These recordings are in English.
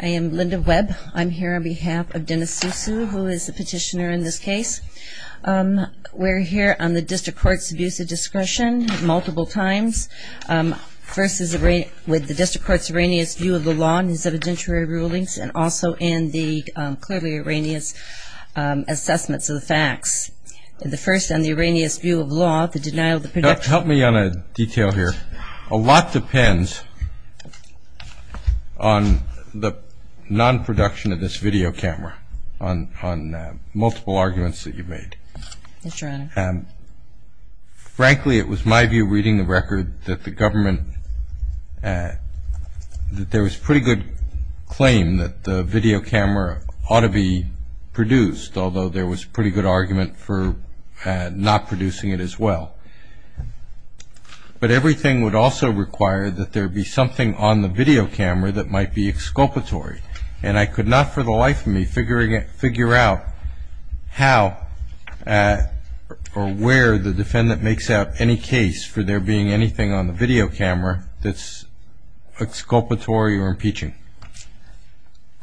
I am Linda Webb. I'm here on behalf of Dennis Suesue, who is the petitioner in this case. We're here on the district court's abuse of discretion multiple times, first with the district court's erroneous view of the law and its evidentiary rulings, and also in the clearly erroneous assessments of the facts. The first, on the erroneous view of law, the denial of the production... the non-production of this video camera on multiple arguments that you've made. Yes, Your Honor. Frankly, it was my view, reading the record, that the government... that there was pretty good claim that the video camera ought to be produced, although there was pretty good argument for not producing it as well. But everything would also require that there be something on the video camera that might be exculpatory. And I could not for the life of me figure out how or where the defendant makes out any case for there being anything on the video camera that's exculpatory or impeaching.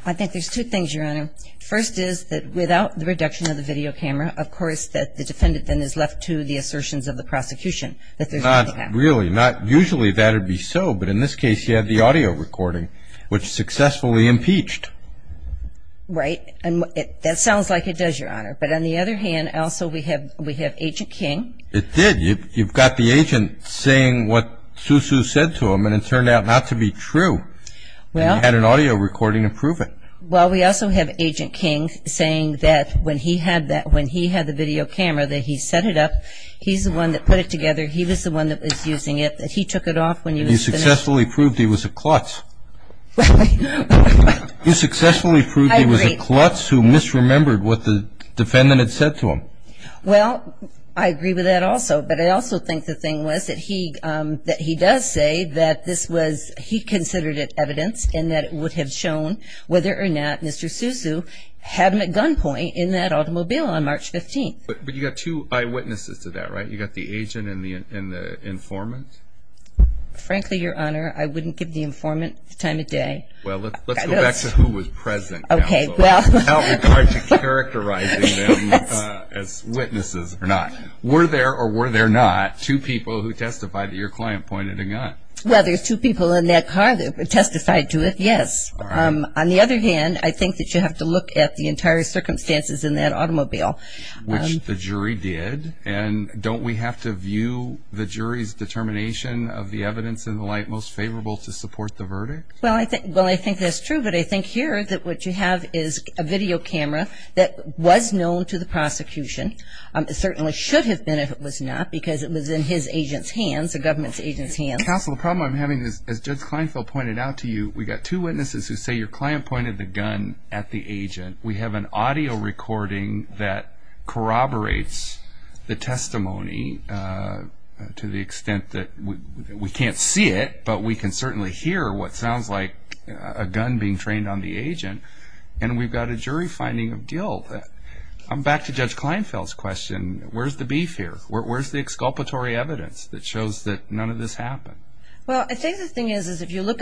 I think there's two things, Your Honor. First is that without the reduction of the video camera, of course, that the defendant then is left to the assertions of the prosecution that there's nothing happening. Not really. Not usually that would be so, but in this case, you had the audio recording, which successfully impeached. Right. And that sounds like it does, Your Honor. But on the other hand, also we have Agent King. It did. You've got the agent saying what Susu said to him, and it turned out not to be true. Well... And you had an audio recording to prove it. Well, we also have Agent King saying that when he had the video camera, that he set it up, he's the one that put it together, he was the one that was using it, that he took it off when he was finished. You successfully proved he was a klutz. You successfully proved he was a klutz who misremembered what the defendant had said to him. Well, I agree with that also. But I also think the thing was that he does say that this was he considered it evidence and that it would have shown whether or not Mr. Susu had a gunpoint in that automobile on March 15th. But you've got two eyewitnesses to that, right? You've got the agent and the informant. Frankly, Your Honor, I wouldn't give the informant the time of day. Well, let's go back to who was present. Okay, well... Without regard to characterizing them as witnesses or not. Were there or were there not two people who testified that your client pointed a gun? Well, there's two people in that car that testified to it, yes. On the other hand, I think that you have to look at the entire circumstances in that automobile. Which the jury did. And don't we have to view the jury's determination of the evidence in the light most favorable to support the verdict? Well, I think that's true. But I think here that what you have is a video camera that was known to the prosecution. It certainly should have been if it was not because it was in his agent's hands, the government's agent's hands. Counsel, the problem I'm having is, as Judge Kleinfeld pointed out to you, we've got two witnesses who say your client pointed the gun at the agent. We have an audio recording that corroborates the testimony to the extent that we can't see it, but we can certainly hear what sounds like a gun being trained on the agent. And we've got a jury finding of guilt. I'm back to Judge Kleinfeld's question. Where's the beef here? Where's the exculpatory evidence that shows that none of this happened? Well, I think the thing is, if you look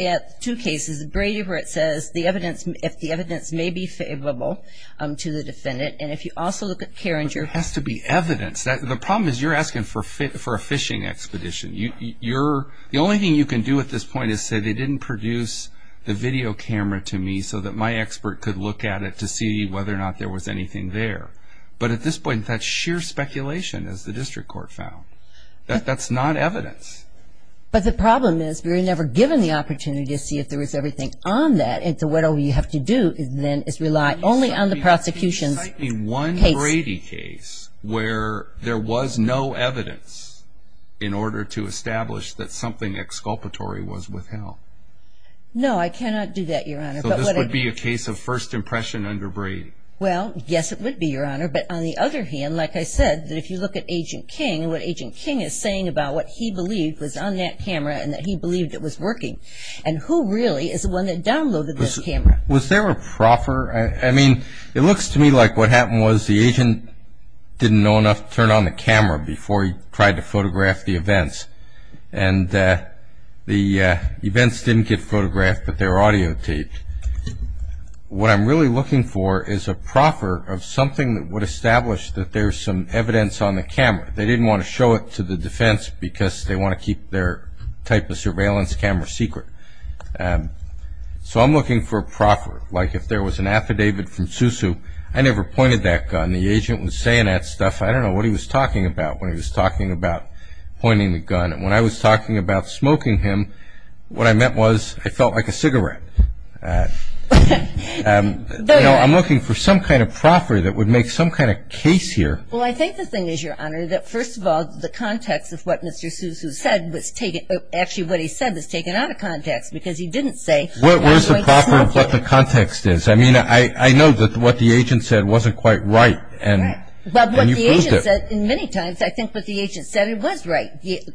at two cases, Brady where it says if the evidence may be favorable to the defendant, and if you also look at Carringer. There has to be evidence. The problem is you're asking for a fishing expedition. The only thing you can do at this point is say they didn't produce the video camera to me so that my expert could look at it to see whether or not there was anything there. But at this point, that's sheer speculation, as the district court found. That's not evidence. But the problem is we were never given the opportunity to see if there was everything on that, and so whatever you have to do then is rely only on the prosecution's case. Can you cite me one Brady case where there was no evidence in order to establish that something exculpatory was withheld? No, I cannot do that, Your Honor. So this would be a case of first impression under Brady? Well, yes, it would be, Your Honor. But on the other hand, like I said, that if you look at Agent King and what Agent King is saying about what he believed was on that camera and that he believed it was working. And who really is the one that downloaded this camera? Was there a proffer? I mean, it looks to me like what happened was the agent didn't know enough to turn on the camera before he tried to photograph the events. And the events didn't get photographed, but they were audio taped. What I'm really looking for is a proffer of something that would establish that there's some evidence on the camera. They didn't want to show it to the defense because they want to keep their type of surveillance camera secret. So I'm looking for a proffer. Like if there was an affidavit from Susu, I never pointed that gun. The agent was saying that stuff. I don't know what he was talking about when he was talking about pointing the gun. When I was talking about smoking him, what I meant was I felt like a cigarette. I'm looking for some kind of proffer that would make some kind of case here. Well, I think the thing is, Your Honor, that first of all, the context of what Mr. Susu said was taken – actually what he said was taken out of context because he didn't say I'm not going to smoke you. Where's the proffer of what the context is? I mean, I know that what the agent said wasn't quite right and you proved it. And many times I think what the agent said, it was right.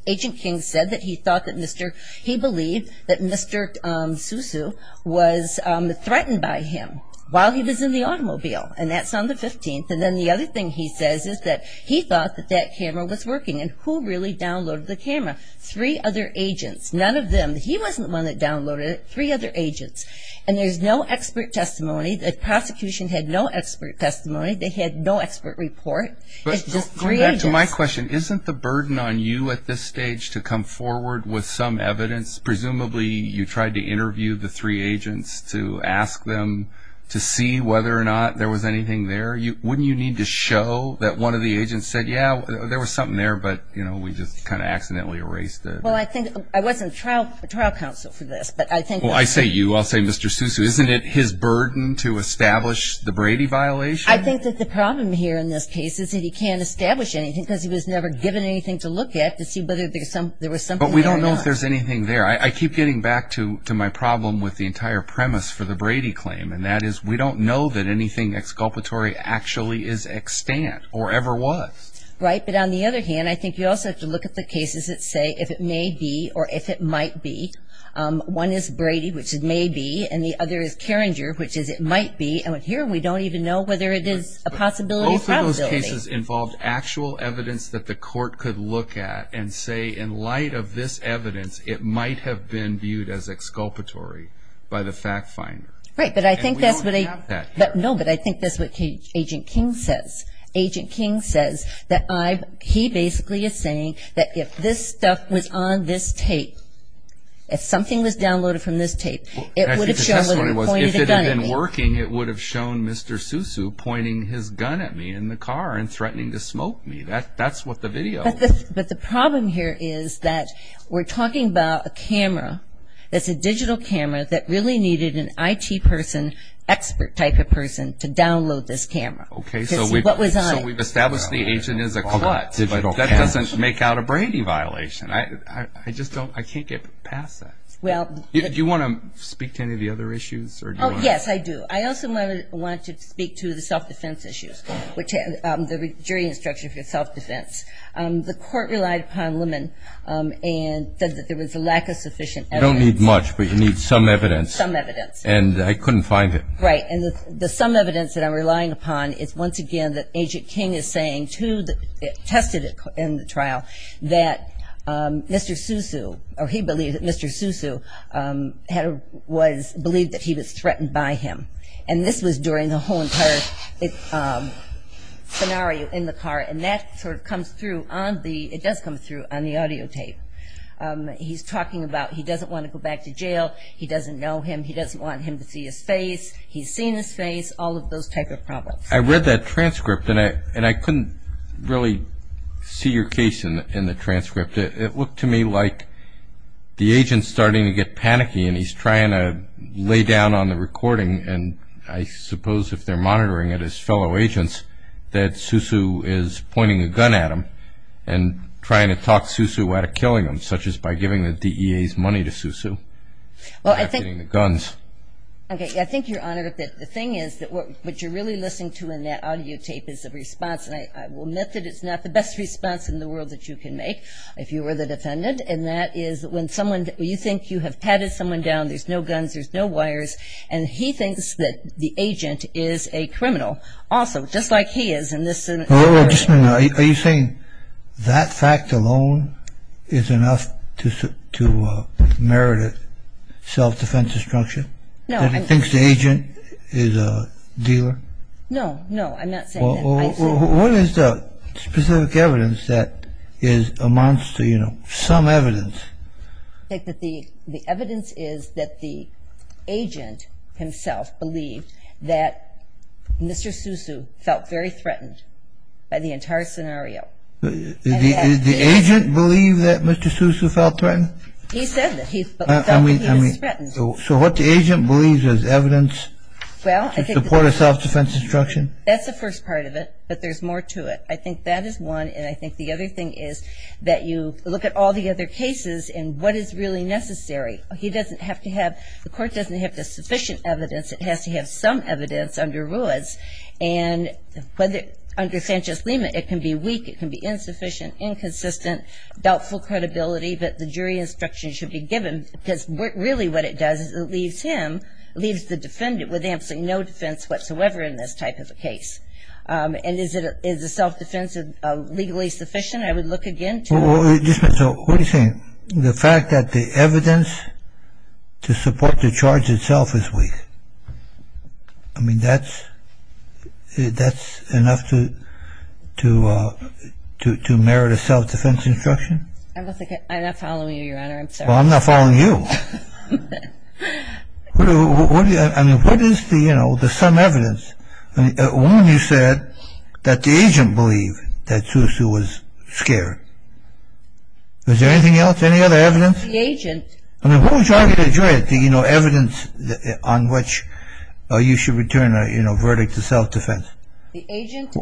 Agent King said that he thought that Mr. – he believed that Mr. Susu was threatened by him while he was in the automobile. And that's on the 15th. And then the other thing he says is that he thought that that camera was working. And who really downloaded the camera? Three other agents. None of them. He wasn't the one that downloaded it. Three other agents. And there's no expert testimony. The prosecution had no expert testimony. They had no expert report. It's just three agents. To my question, isn't the burden on you at this stage to come forward with some evidence? Presumably you tried to interview the three agents to ask them to see whether or not there was anything there. Wouldn't you need to show that one of the agents said, yeah, there was something there, but, you know, we just kind of accidentally erased it? Well, I think – I wasn't trial counsel for this, but I think – Well, I say you. I'll say Mr. Susu. Isn't it his burden to establish the Brady violation? I think that the problem here in this case is that he can't establish anything because he was never given anything to look at to see whether there was something there or not. But we don't know if there's anything there. I keep getting back to my problem with the entire premise for the Brady claim, and that is we don't know that anything exculpatory actually is extant or ever was. Right. But on the other hand, I think you also have to look at the cases that say if it may be or if it might be. One is Brady, which it may be, and the other is Carringer, which is it might be. Here we don't even know whether it is a possibility or probability. Both of those cases involved actual evidence that the court could look at and say, in light of this evidence, it might have been viewed as exculpatory by the fact finder. Right, but I think that's what I – And we don't have that here. No, but I think that's what Agent King says. Agent King says that I've – he basically is saying that if this stuff was on this tape, if something was downloaded from this tape, it would have shown that it pointed a gun at me. If it had been working, it would have shown Mr. Sousou pointing his gun at me in the car and threatening to smoke me. That's what the video was. But the problem here is that we're talking about a camera. It's a digital camera that really needed an IT person, expert type of person, to download this camera. Okay, so we've – Because what was on it? So we've established the agent is a klutz. That doesn't make out a Brady violation. I just don't – I can't get past that. Do you want to speak to any of the other issues? Yes, I do. I also want to speak to the self-defense issues, the jury instruction for self-defense. The court relied upon Lemon and said that there was a lack of sufficient evidence. You don't need much, but you need some evidence. Some evidence. And I couldn't find it. Right, and the some evidence that I'm relying upon is, once again, that Agent King is saying to the – tested in the trial that Mr. Sousou – or he believed that Mr. Sousou was – believed that he was threatened by him. And this was during the whole entire scenario in the car, and that sort of comes through on the – it does come through on the audio tape. He's talking about he doesn't want to go back to jail. He doesn't know him. He doesn't want him to see his face. He's seen his face, all of those type of problems. I read that transcript, and I couldn't really see your case in the transcript. It looked to me like the agent's starting to get panicky, and he's trying to lay down on the recording, and I suppose if they're monitoring it as fellow agents, that Sousou is pointing a gun at him and trying to talk Sousou out of killing him, such as by giving the DEA's money to Sousou. Well, I think – Not getting the guns. Okay. I think you're on it a bit. The thing is that what you're really listening to in that audio tape is a response, and I will admit that it's not the best response in the world that you can make, if you were the defendant, and that is when someone – you think you have patted someone down, there's no guns, there's no wires, and he thinks that the agent is a criminal. Also, just like he is in this scenario. Are you saying that fact alone is enough to merit a self-defense destruction? No. That he thinks the agent is a dealer? No, no, I'm not saying that. What is the specific evidence that amounts to, you know, some evidence? I think that the evidence is that the agent himself believed that Mr. Sousou felt very threatened by the entire scenario. Did the agent believe that Mr. Sousou felt threatened? He said that he felt that he was threatened. So what the agent believes is evidence to support a self-defense destruction? That's the first part of it, but there's more to it. I think that is one, and I think the other thing is that you look at all the other cases and what is really necessary. He doesn't have to have – the court doesn't have the sufficient evidence. It has to have some evidence under Ruiz, and under Sanchez-Lima, it can be weak, it can be insufficient, inconsistent, doubtful credibility, but the jury instruction should be given because really what it does is it leaves him, leaves the defendant with absolutely no defense whatsoever in this type of a case. And is the self-defense legally sufficient? I would look again to – Just a minute. So what are you saying? The fact that the evidence to support the charge itself is weak. I mean, that's enough to merit a self-defense instruction? I'm not following you, Your Honor. I'm sorry. Well, I'm not following you. I mean, what is the, you know, the some evidence? One, you said that the agent believed that Sousou was scared. Is there anything else, any other evidence? The agent – I mean, what was the argument of the jury, the, you know, evidence on which you should return a, you know, verdict of self-defense? The agent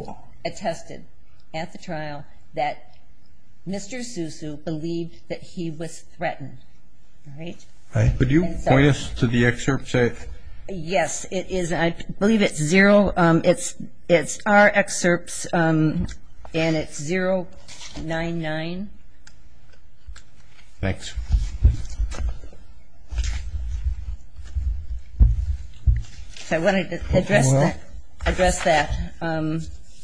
attested at the trial that Mr. Sousou believed that he was threatened, right? Right. Would you point us to the excerpt say – Yes, it is. I believe it's zero. It's our excerpts, and it's 099. Thanks. I wanted to address that.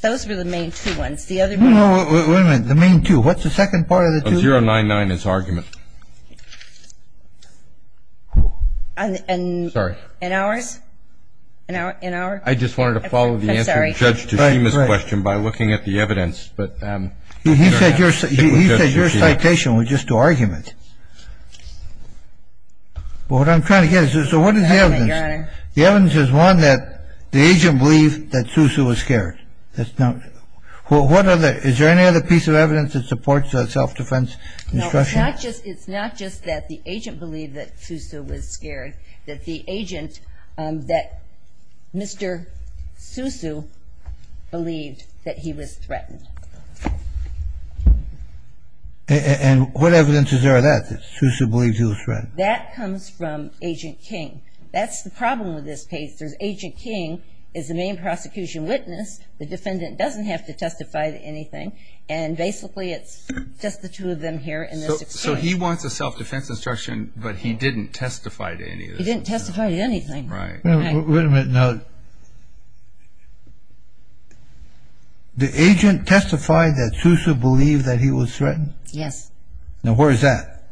Those were the main two ones. No, no, wait a minute. The main two. What's the second part of the two? 099 is argument. I'm sorry. In ours? I just wanted to follow the answer to Judge Tshima's question by looking at the evidence. He said your citation was just an argument. What I'm trying to get at is, so what is the evidence? The evidence is one that the agent believed that Sousou was scared. Is there any other piece of evidence that supports the self-defense instruction? It's not just that the agent believed that Sousou was scared, that the agent, that Mr. Sousou, believed that he was threatened. And what evidence is there of that, that Sousou believes he was threatened? That comes from Agent King. That's the problem with this case. Agent King is the main prosecution witness. The defendant doesn't have to testify to anything. And basically it's just the two of them here in this case. So he wants a self-defense instruction, but he didn't testify to any of this. He didn't testify to anything. Right. Wait a minute. Now, the agent testified that Sousou believed that he was threatened? Yes. Now, where is that?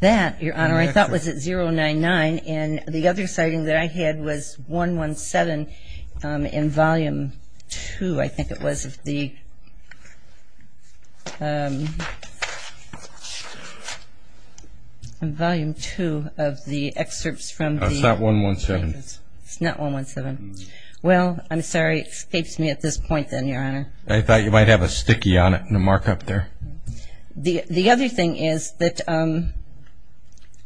That, Your Honor, I thought was at 099. And the other sighting that I had was 117 in Volume 2, I think it was, of the excerpts from the – It's not 117. It's not 117. Well, I'm sorry. It escapes me at this point then, Your Honor. I thought you might have a sticky on it and a markup there. The other thing is that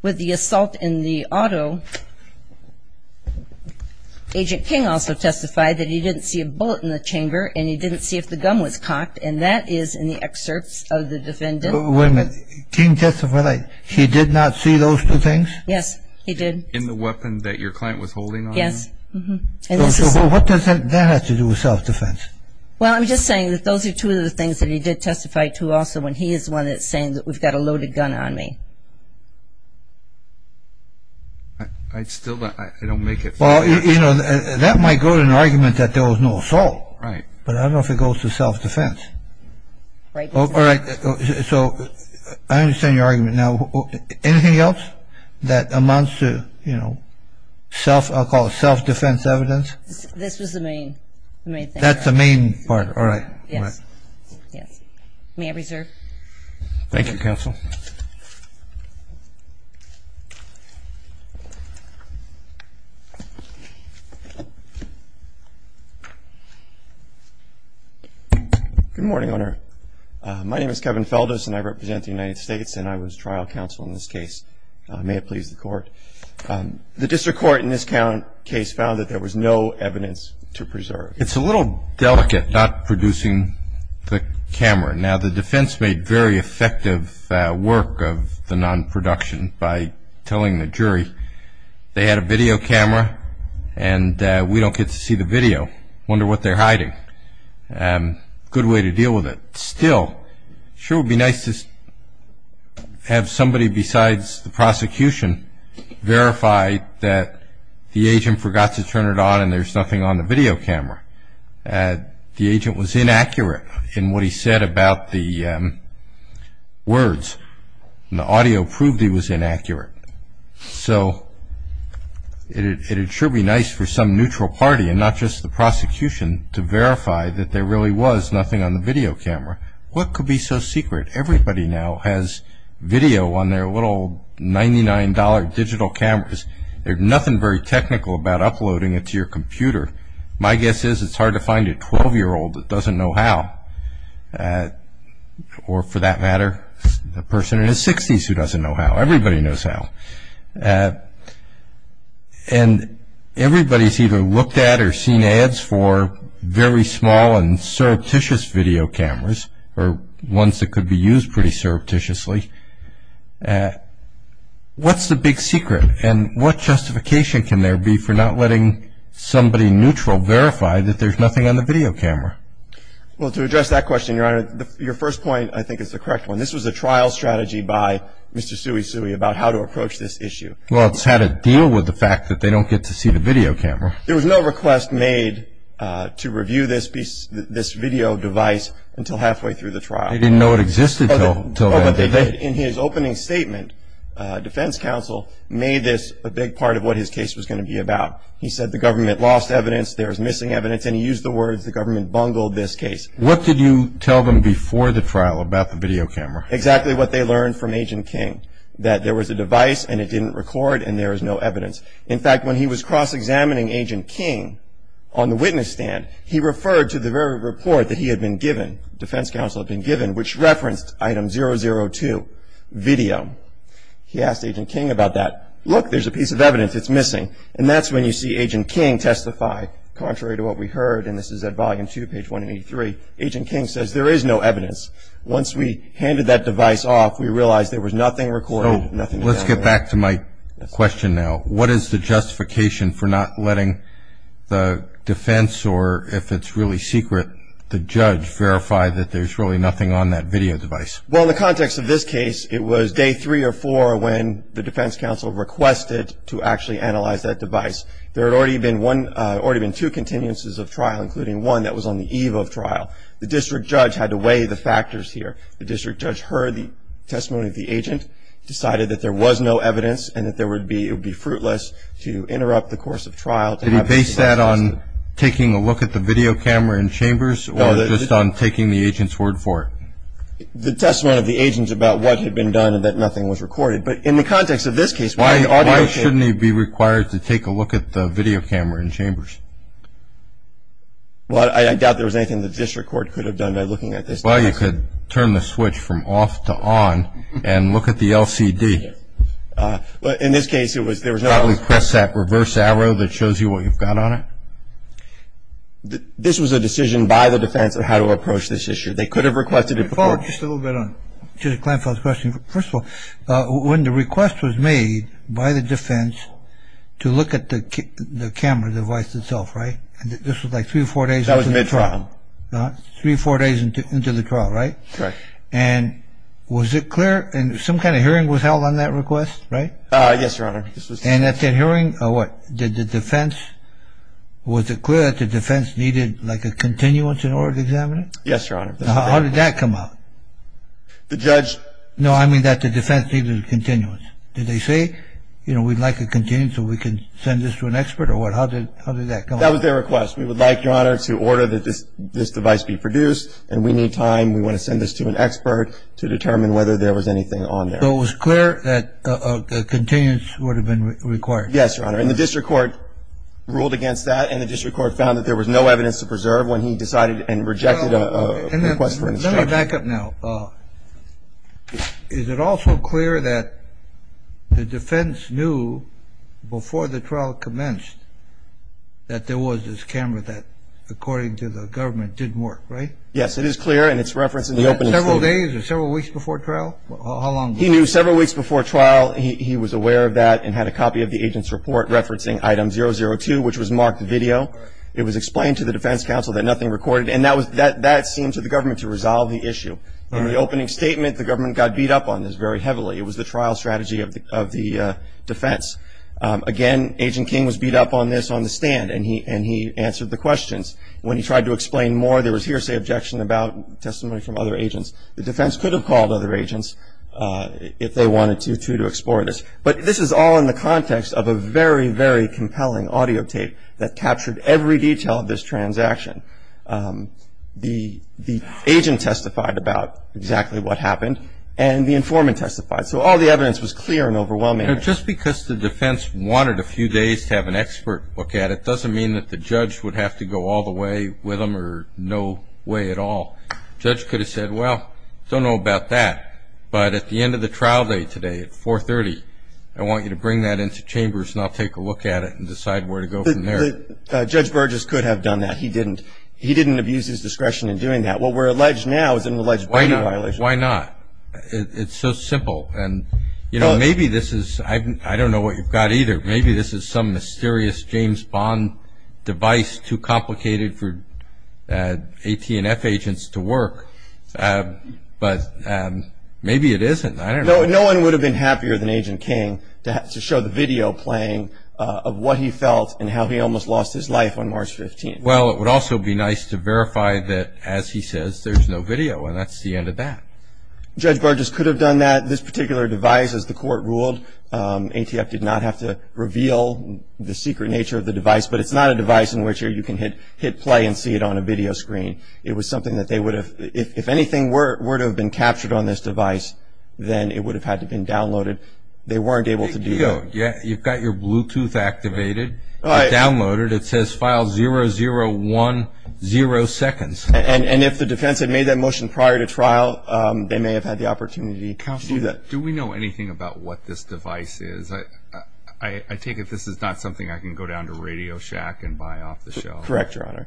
with the assault in the auto, Agent King also testified that he didn't see a bullet in the chamber and he didn't see if the gun was cocked, and that is in the excerpts of the defendant. Wait a minute. King testified that he did not see those two things? Yes, he did. In the weapon that your client was holding on him? Yes. So what does that have to do with self-defense? Well, I'm just saying that those are two of the things that he did testify to also when he is the one that's saying that we've got a loaded gun on me. I still don't make it. Well, you know, that might go to an argument that there was no assault. Right. But I don't know if it goes to self-defense. Right. All right. So I understand your argument. Now, anything else that amounts to, you know, self – I'll call it self-defense evidence? This was the main thing. That's the main part. All right. Yes. Yes. May I reserve? Thank you, Counsel. Good morning, Your Honor. My name is Kevin Feldes, and I represent the United States, and I was trial counsel in this case. May it please the Court. The district court in this case found that there was no evidence to preserve. It's a little delicate not producing the camera. Now, the defense made very effective work of the non-production by telling the jury they had a video camera and we don't get to see the video. Wonder what they're hiding. Good way to deal with it. Still, sure would be nice to have somebody besides the prosecution verify that the agent forgot to turn it on and there's nothing on the video camera. The agent was inaccurate in what he said about the words. The audio proved he was inaccurate. So it sure would be nice for some neutral party and not just the prosecution to verify that there really was nothing on the video camera. What could be so secret? Everybody now has video on their little $99 digital cameras. There's nothing very technical about uploading it to your computer. My guess is it's hard to find a 12-year-old that doesn't know how, or for that matter a person in his 60s who doesn't know how. Everybody knows how. And everybody's either looked at or seen ads for very small and surreptitious video cameras or ones that could be used pretty surreptitiously. What's the big secret? And what justification can there be for not letting somebody neutral verify that there's nothing on the video camera? Well, to address that question, Your Honor, your first point I think is the correct one. This was a trial strategy by Mr. Suey Suey about how to approach this issue. Well, it's how to deal with the fact that they don't get to see the video camera. There was no request made to review this video device until halfway through the trial. They didn't know it existed until then. In his opening statement, defense counsel made this a big part of what his case was going to be about. He said the government lost evidence, there was missing evidence, and he used the words the government bungled this case. What did you tell them before the trial about the video camera? Exactly what they learned from Agent King, that there was a device and it didn't record and there was no evidence. In fact, when he was cross-examining Agent King on the witness stand, he referred to the very report that he had been given, defense counsel had been given, which referenced item 002, video. He asked Agent King about that. Look, there's a piece of evidence that's missing. And that's when you see Agent King testify, contrary to what we heard, and this is at volume two, page 183. Agent King says there is no evidence. Once we handed that device off, we realized there was nothing recorded. So let's get back to my question now. What is the justification for not letting the defense or, if it's really secret, the judge verify that there's really nothing on that video device? Well, in the context of this case, it was day three or four when the defense counsel requested to actually analyze that device. There had already been two continuances of trial, including one that was on the eve of trial. The district judge had to weigh the factors here. The district judge heard the testimony of the agent, decided that there was no evidence Did he base that on taking a look at the video camera in Chambers or just on taking the agent's word for it? The testimony of the agent about what had been done and that nothing was recorded. But in the context of this case, why should he be required to take a look at the video camera in Chambers? Well, I doubt there was anything the district court could have done by looking at this device. Well, you could turn the switch from off to on and look at the LCD. In this case, there was no... Probably press that reverse arrow that shows you what you've got on it. This was a decision by the defense of how to approach this issue. They could have requested it before. Just a little bit on Judge Kleinfeld's question. First of all, when the request was made by the defense to look at the camera device itself, right? And this was like three or four days... That was mid-trial. Three or four days into the trial, right? Right. And was it clear? Some kind of hearing was held on that request, right? Yes, Your Honor. And at that hearing, what? Did the defense... Was it clear that the defense needed like a continuance in order to examine it? Yes, Your Honor. How did that come out? The judge... No, I mean that the defense needed a continuance. Did they say, you know, we'd like a continuance so we can send this to an expert or what? How did that come out? That was their request. We would like, Your Honor, to order that this device be produced and we need time. We want to send this to an expert to determine whether there was anything on there. So it was clear that a continuance would have been required. Yes, Your Honor. And the district court ruled against that and the district court found that there was no evidence to preserve when he decided and rejected a request for instruction. Let me back up now. Is it also clear that the defense knew before the trial commenced that there was this camera that, according to the government, didn't work, right? Yes, it is clear and it's referenced in the opening statement. Several days or several weeks before trial? How long ago? He knew several weeks before trial. He was aware of that and had a copy of the agent's report referencing item 002, which was marked video. It was explained to the defense counsel that nothing recorded and that seemed to the government to resolve the issue. In the opening statement, the government got beat up on this very heavily. It was the trial strategy of the defense. Again, Agent King was beat up on this on the stand and he answered the questions. When he tried to explain more, there was hearsay objection about testimony from other agents. The defense could have called other agents if they wanted to, too, to explore this. But this is all in the context of a very, very compelling audio tape that captured every detail of this transaction. The agent testified about exactly what happened and the informant testified. So all the evidence was clear and overwhelming. Just because the defense wanted a few days to have an expert look at it doesn't mean that the judge would have to go all the way with them or no way at all. The judge could have said, well, don't know about that, but at the end of the trial day today at 430, I want you to bring that into chambers and I'll take a look at it and decide where to go from there. Judge Burgess could have done that. He didn't. He didn't abuse his discretion in doing that. What we're alleged now is an alleged body violation. Why not? It's so simple. And, you know, maybe this is – I don't know what you've got either. Maybe this is some mysterious James Bond device too complicated for AT&F agents to work. But maybe it isn't. I don't know. No one would have been happier than Agent King to show the video playing of what he felt and how he almost lost his life on March 15th. Well, it would also be nice to verify that, as he says, there's no video. And that's the end of that. Judge Burgess could have done that. This particular device, as the court ruled, AT&F did not have to reveal the secret nature of the device. But it's not a device in which you can hit play and see it on a video screen. It was something that they would have – if anything were to have been captured on this device, then it would have had to have been downloaded. They weren't able to do that. You've got your Bluetooth activated, downloaded. It says file 0010 seconds. And if the defense had made that motion prior to trial, they may have had the opportunity to do that. Counsel, do we know anything about what this device is? I take it this is not something I can go down to Radio Shack and buy off the shelf. Correct, Your Honor.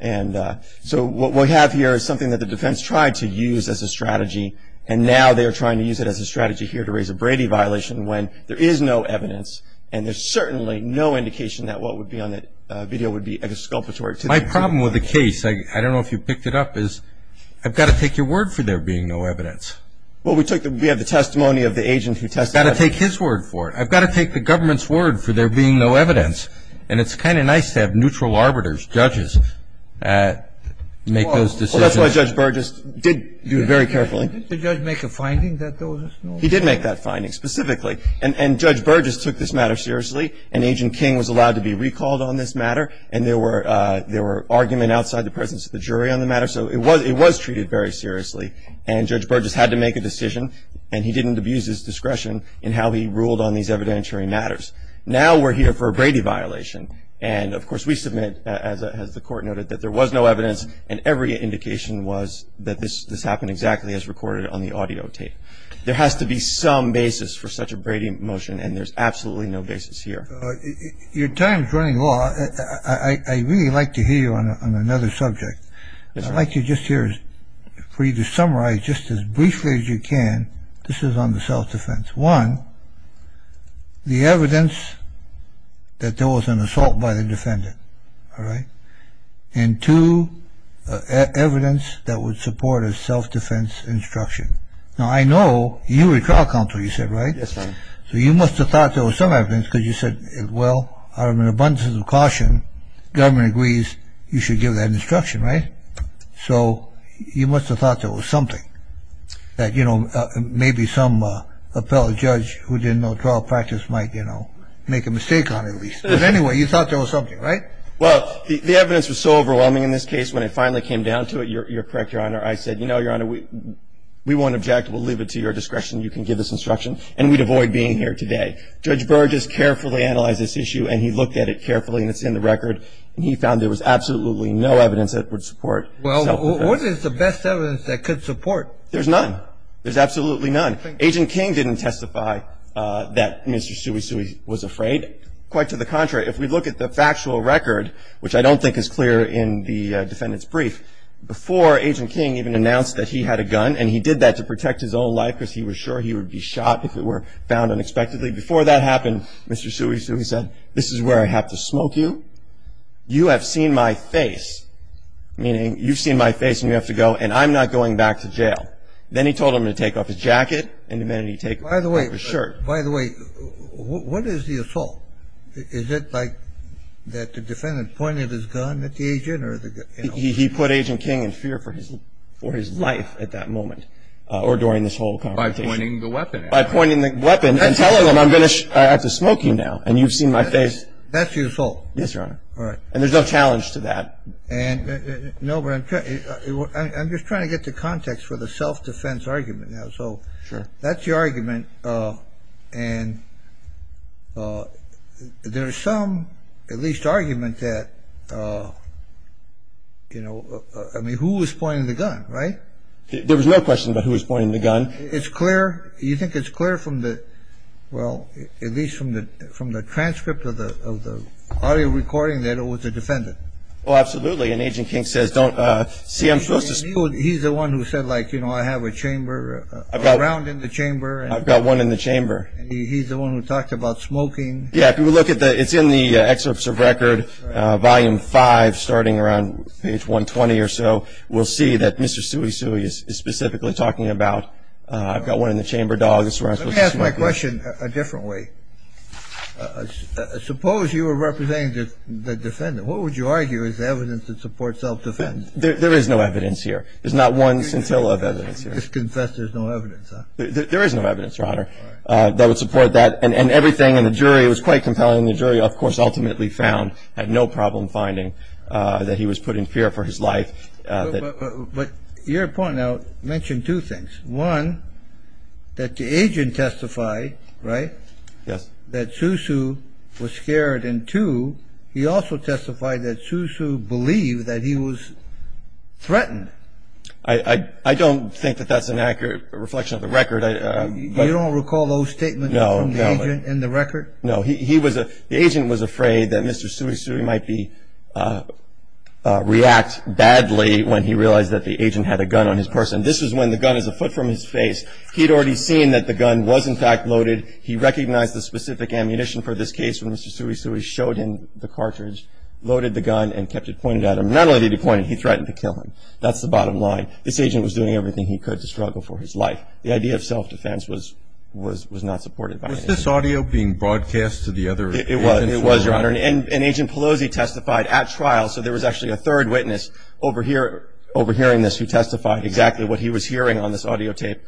And so what we have here is something that the defense tried to use as a strategy, and now they are trying to use it as a strategy here to raise a Brady violation when there is no evidence, and there's certainly no indication that what would be on the video would be a disculpatory. My problem with the case, I don't know if you picked it up, is I've got to take your word for there being no evidence. Well, we have the testimony of the agent who testified. I've got to take his word for it. I've got to take the government's word for there being no evidence. And it's kind of nice to have neutral arbiters, judges, make those decisions. Well, that's why Judge Burgess did do it very carefully. Didn't the judge make a finding that there was no evidence? He did make that finding specifically. And Judge Burgess took this matter seriously, and Agent King was allowed to be recalled on this matter, and there were arguments outside the presence of the jury on the matter. So it was treated very seriously, and Judge Burgess had to make a decision, and he didn't abuse his discretion in how he ruled on these evidentiary matters. Now we're here for a Brady violation. And, of course, we submit, as the Court noted, that there was no evidence, and every indication was that this happened exactly as recorded on the audio tape. There has to be some basis for such a Brady motion, and there's absolutely no basis here. Your time is running low. I'd really like to hear you on another subject. I'd like you just here for you to summarize just as briefly as you can. This is on the self-defense. One, the evidence that there was an assault by the defendant. All right? And two, evidence that would support a self-defense instruction. Now I know you were trial counsel, you said, right? Yes, sir. So you must have thought there was some evidence because you said, well, out of an abundance of caution, government agrees you should give that instruction, right? So you must have thought there was something, that, you know, maybe some appellate judge who didn't know trial practice might, you know, make a mistake on it at least. But anyway, you thought there was something, right? Well, the evidence was so overwhelming in this case, when it finally came down to it, you're correct, Your Honor. I said, you know, Your Honor, we won't object. We'll leave it to your discretion. You can give this instruction. And we'd avoid being here today. Judge Burr just carefully analyzed this issue, and he looked at it carefully, and it's in the record. And he found there was absolutely no evidence that would support self-defense. Well, what is the best evidence that could support? There's none. There's absolutely none. Agent King didn't testify that Mr. Suisui was afraid. Quite to the contrary, if we look at the factual record, which I don't think is clear in the defendant's brief, before Agent King even announced that he had a gun, and he did that to protect his own life because he was sure he would be shot if it were found unexpectedly, before that happened, Mr. Suisui said, this is where I have to smoke you. You have seen my face, meaning you've seen my face and you have to go, and I'm not going back to jail. Then he told him to take off his jacket, and then he took off his shirt. By the way, what is the assault? Is it like that the defendant pointed his gun at the agent? He put Agent King in fear for his life at that moment or during this whole conversation. By pointing the weapon at him. By pointing the weapon and telling him, I have to smoke you now, and you've seen my face. That's the assault? Yes, Your Honor. All right. And there's no challenge to that. No, but I'm just trying to get the context for the self-defense argument now. Sure. That's the argument, and there's some, at least, argument that, you know, I mean, who was pointing the gun, right? There was no question about who was pointing the gun. It's clear. You think it's clear from the, well, at least from the transcript of the audio recording that it was the defendant? Oh, absolutely, and Agent King says, don't, see, I'm supposed to. He's the one who said, like, you know, I have a chamber, a round in the chamber. I've got one in the chamber. He's the one who talked about smoking. Yeah, if you look at the, it's in the excerpts of record, volume five, starting around page 120 or so, we'll see that Mr. Suisui is specifically talking about, I've got one in the chamber, dog, that's where I'm supposed to smoke you. Let me ask my question a different way. Suppose you were representing the defendant. What would you argue is evidence that supports self-defense? There is no evidence here. There's not one scintilla of evidence here. You just confess there's no evidence, huh? There is no evidence, Your Honor, that would support that, and everything in the jury, it was quite compelling, and the jury, of course, ultimately found, had no problem finding that he was put in fear for his life. But your point now mentioned two things. One, that the agent testified, right, that Suisui was scared, and two, he also testified that Suisui believed that he was threatened. I don't think that that's an accurate reflection of the record. You don't recall those statements from the agent in the record? No. He was, the agent was afraid that Mr. Suisui might be, react badly when he realized that the agent had a gun on his person. This is when the gun is a foot from his face. He'd already seen that the gun was, in fact, loaded. He recognized the specific ammunition for this case when Mr. Suisui showed him the cartridge, loaded the gun, and kept it pointed at him. Not only did he point it, he threatened to kill him. That's the bottom line. This agent was doing everything he could to struggle for his life. The idea of self-defense was not supported by the agent. Was this audio being broadcast to the other agent? It was, Your Honor, and Agent Pelosi testified at trial, so there was actually a third witness overhearing this who testified exactly what he was hearing on this audio tape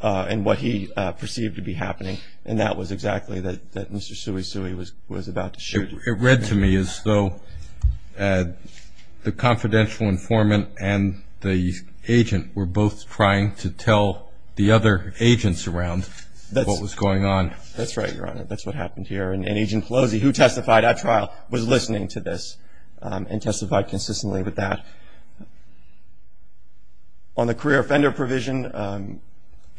and what he perceived to be happening, and that was exactly that Mr. Suisui was about to shoot. It read to me as though the confidential informant and the agent were both trying to tell the other agents around what was going on. That's right, Your Honor. That's what happened here, and Agent Pelosi, who testified at trial, was listening to this and testified consistently with that. On the career offender provision,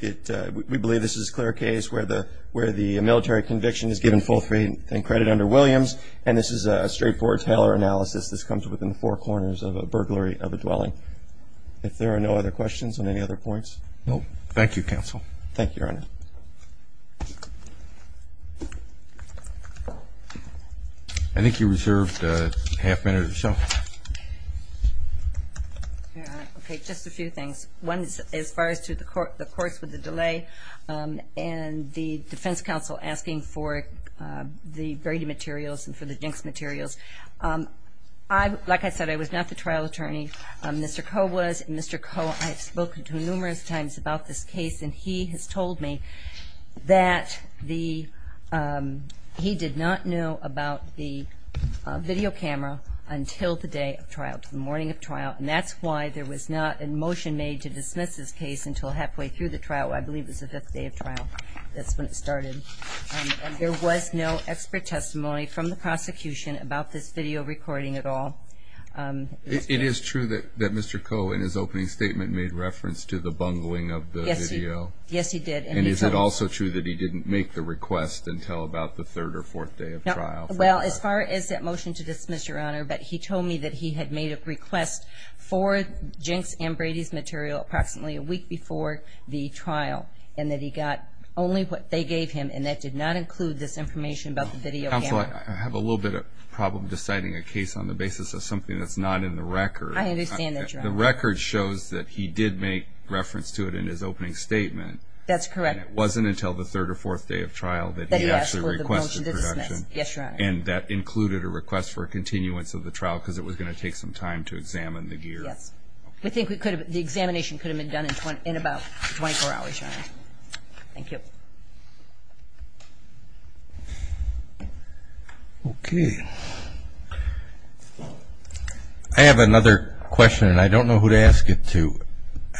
we believe this is a clear case where the military conviction is given full freedom and credit under Williams, and this is a straightforward Taylor analysis. This comes within four corners of a burglary of a dwelling. If there are no other questions on any other points? No. Thank you, Counsel. Thank you, Your Honor. Thank you. I think you reserved a half minute or so. Okay, just a few things. One is as far as to the courts with the delay and the defense counsel asking for the Brady materials and for the Jinx materials. Like I said, I was not the trial attorney. Mr. Koh was, and Mr. Koh, I have spoken to him numerous times about this case, and he has told me that he did not know about the video camera until the day of trial, the morning of trial, and that's why there was not a motion made to dismiss this case until halfway through the trial. I believe it was the fifth day of trial. That's when it started. And there was no expert testimony from the prosecution about this video recording at all. It is true that Mr. Koh, in his opening statement, made reference to the bungling of the video. Yes, he did. And is it also true that he didn't make the request until about the third or fourth day of trial? Well, as far as that motion to dismiss, Your Honor, but he told me that he had made a request for Jinx and Brady's material approximately a week before the trial, and that he got only what they gave him, and that did not include this information about the video camera. Counsel, I have a little bit of a problem deciding a case on the basis of something that's not in the record. I understand that, Your Honor. The record shows that he did make reference to it in his opening statement. That's correct. And it wasn't until the third or fourth day of trial that he actually requested protection. That he asked for the motion to dismiss. Yes, Your Honor. And that included a request for a continuance of the trial because it was going to take some time to examine the gear. Yes. We think the examination could have been done in about 24 hours, Your Honor. Thank you. Okay. I have another question, and I don't know who to ask it to.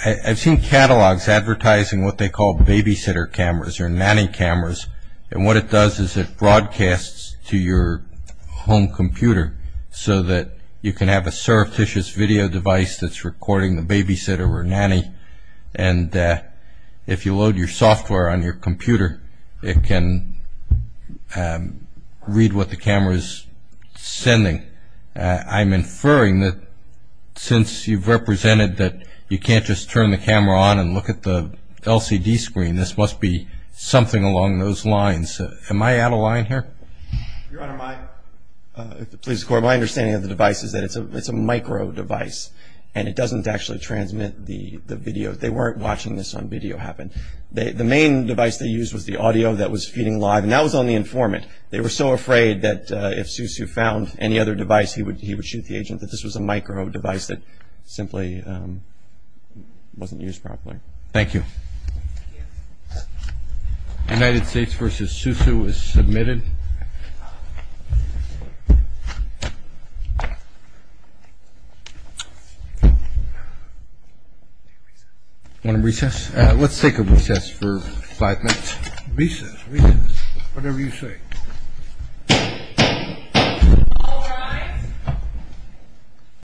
I've seen catalogs advertising what they call babysitter cameras or nanny cameras, and what it does is it broadcasts to your home computer so that you can have a surreptitious video device that's recording the babysitter or nanny, and if you load your software on your computer, it can read what the camera is sending. I'm inferring that since you've represented that you can't just turn the camera on and look at the LCD screen, this must be something along those lines. Am I out of line here? Your Honor, my understanding of the device is that it's a micro device, and it doesn't actually transmit the video. They weren't watching this on video happen. The main device they used was the audio that was feeding live, and that was on the informant. They were so afraid that if Susu found any other device, he would shoot the agent, that this was a micro device that simply wasn't used properly. Thank you. United States v. Susu is submitted. Want to recess? Let's take a recess for five minutes. Recess. Recess. Whatever you say. All rise.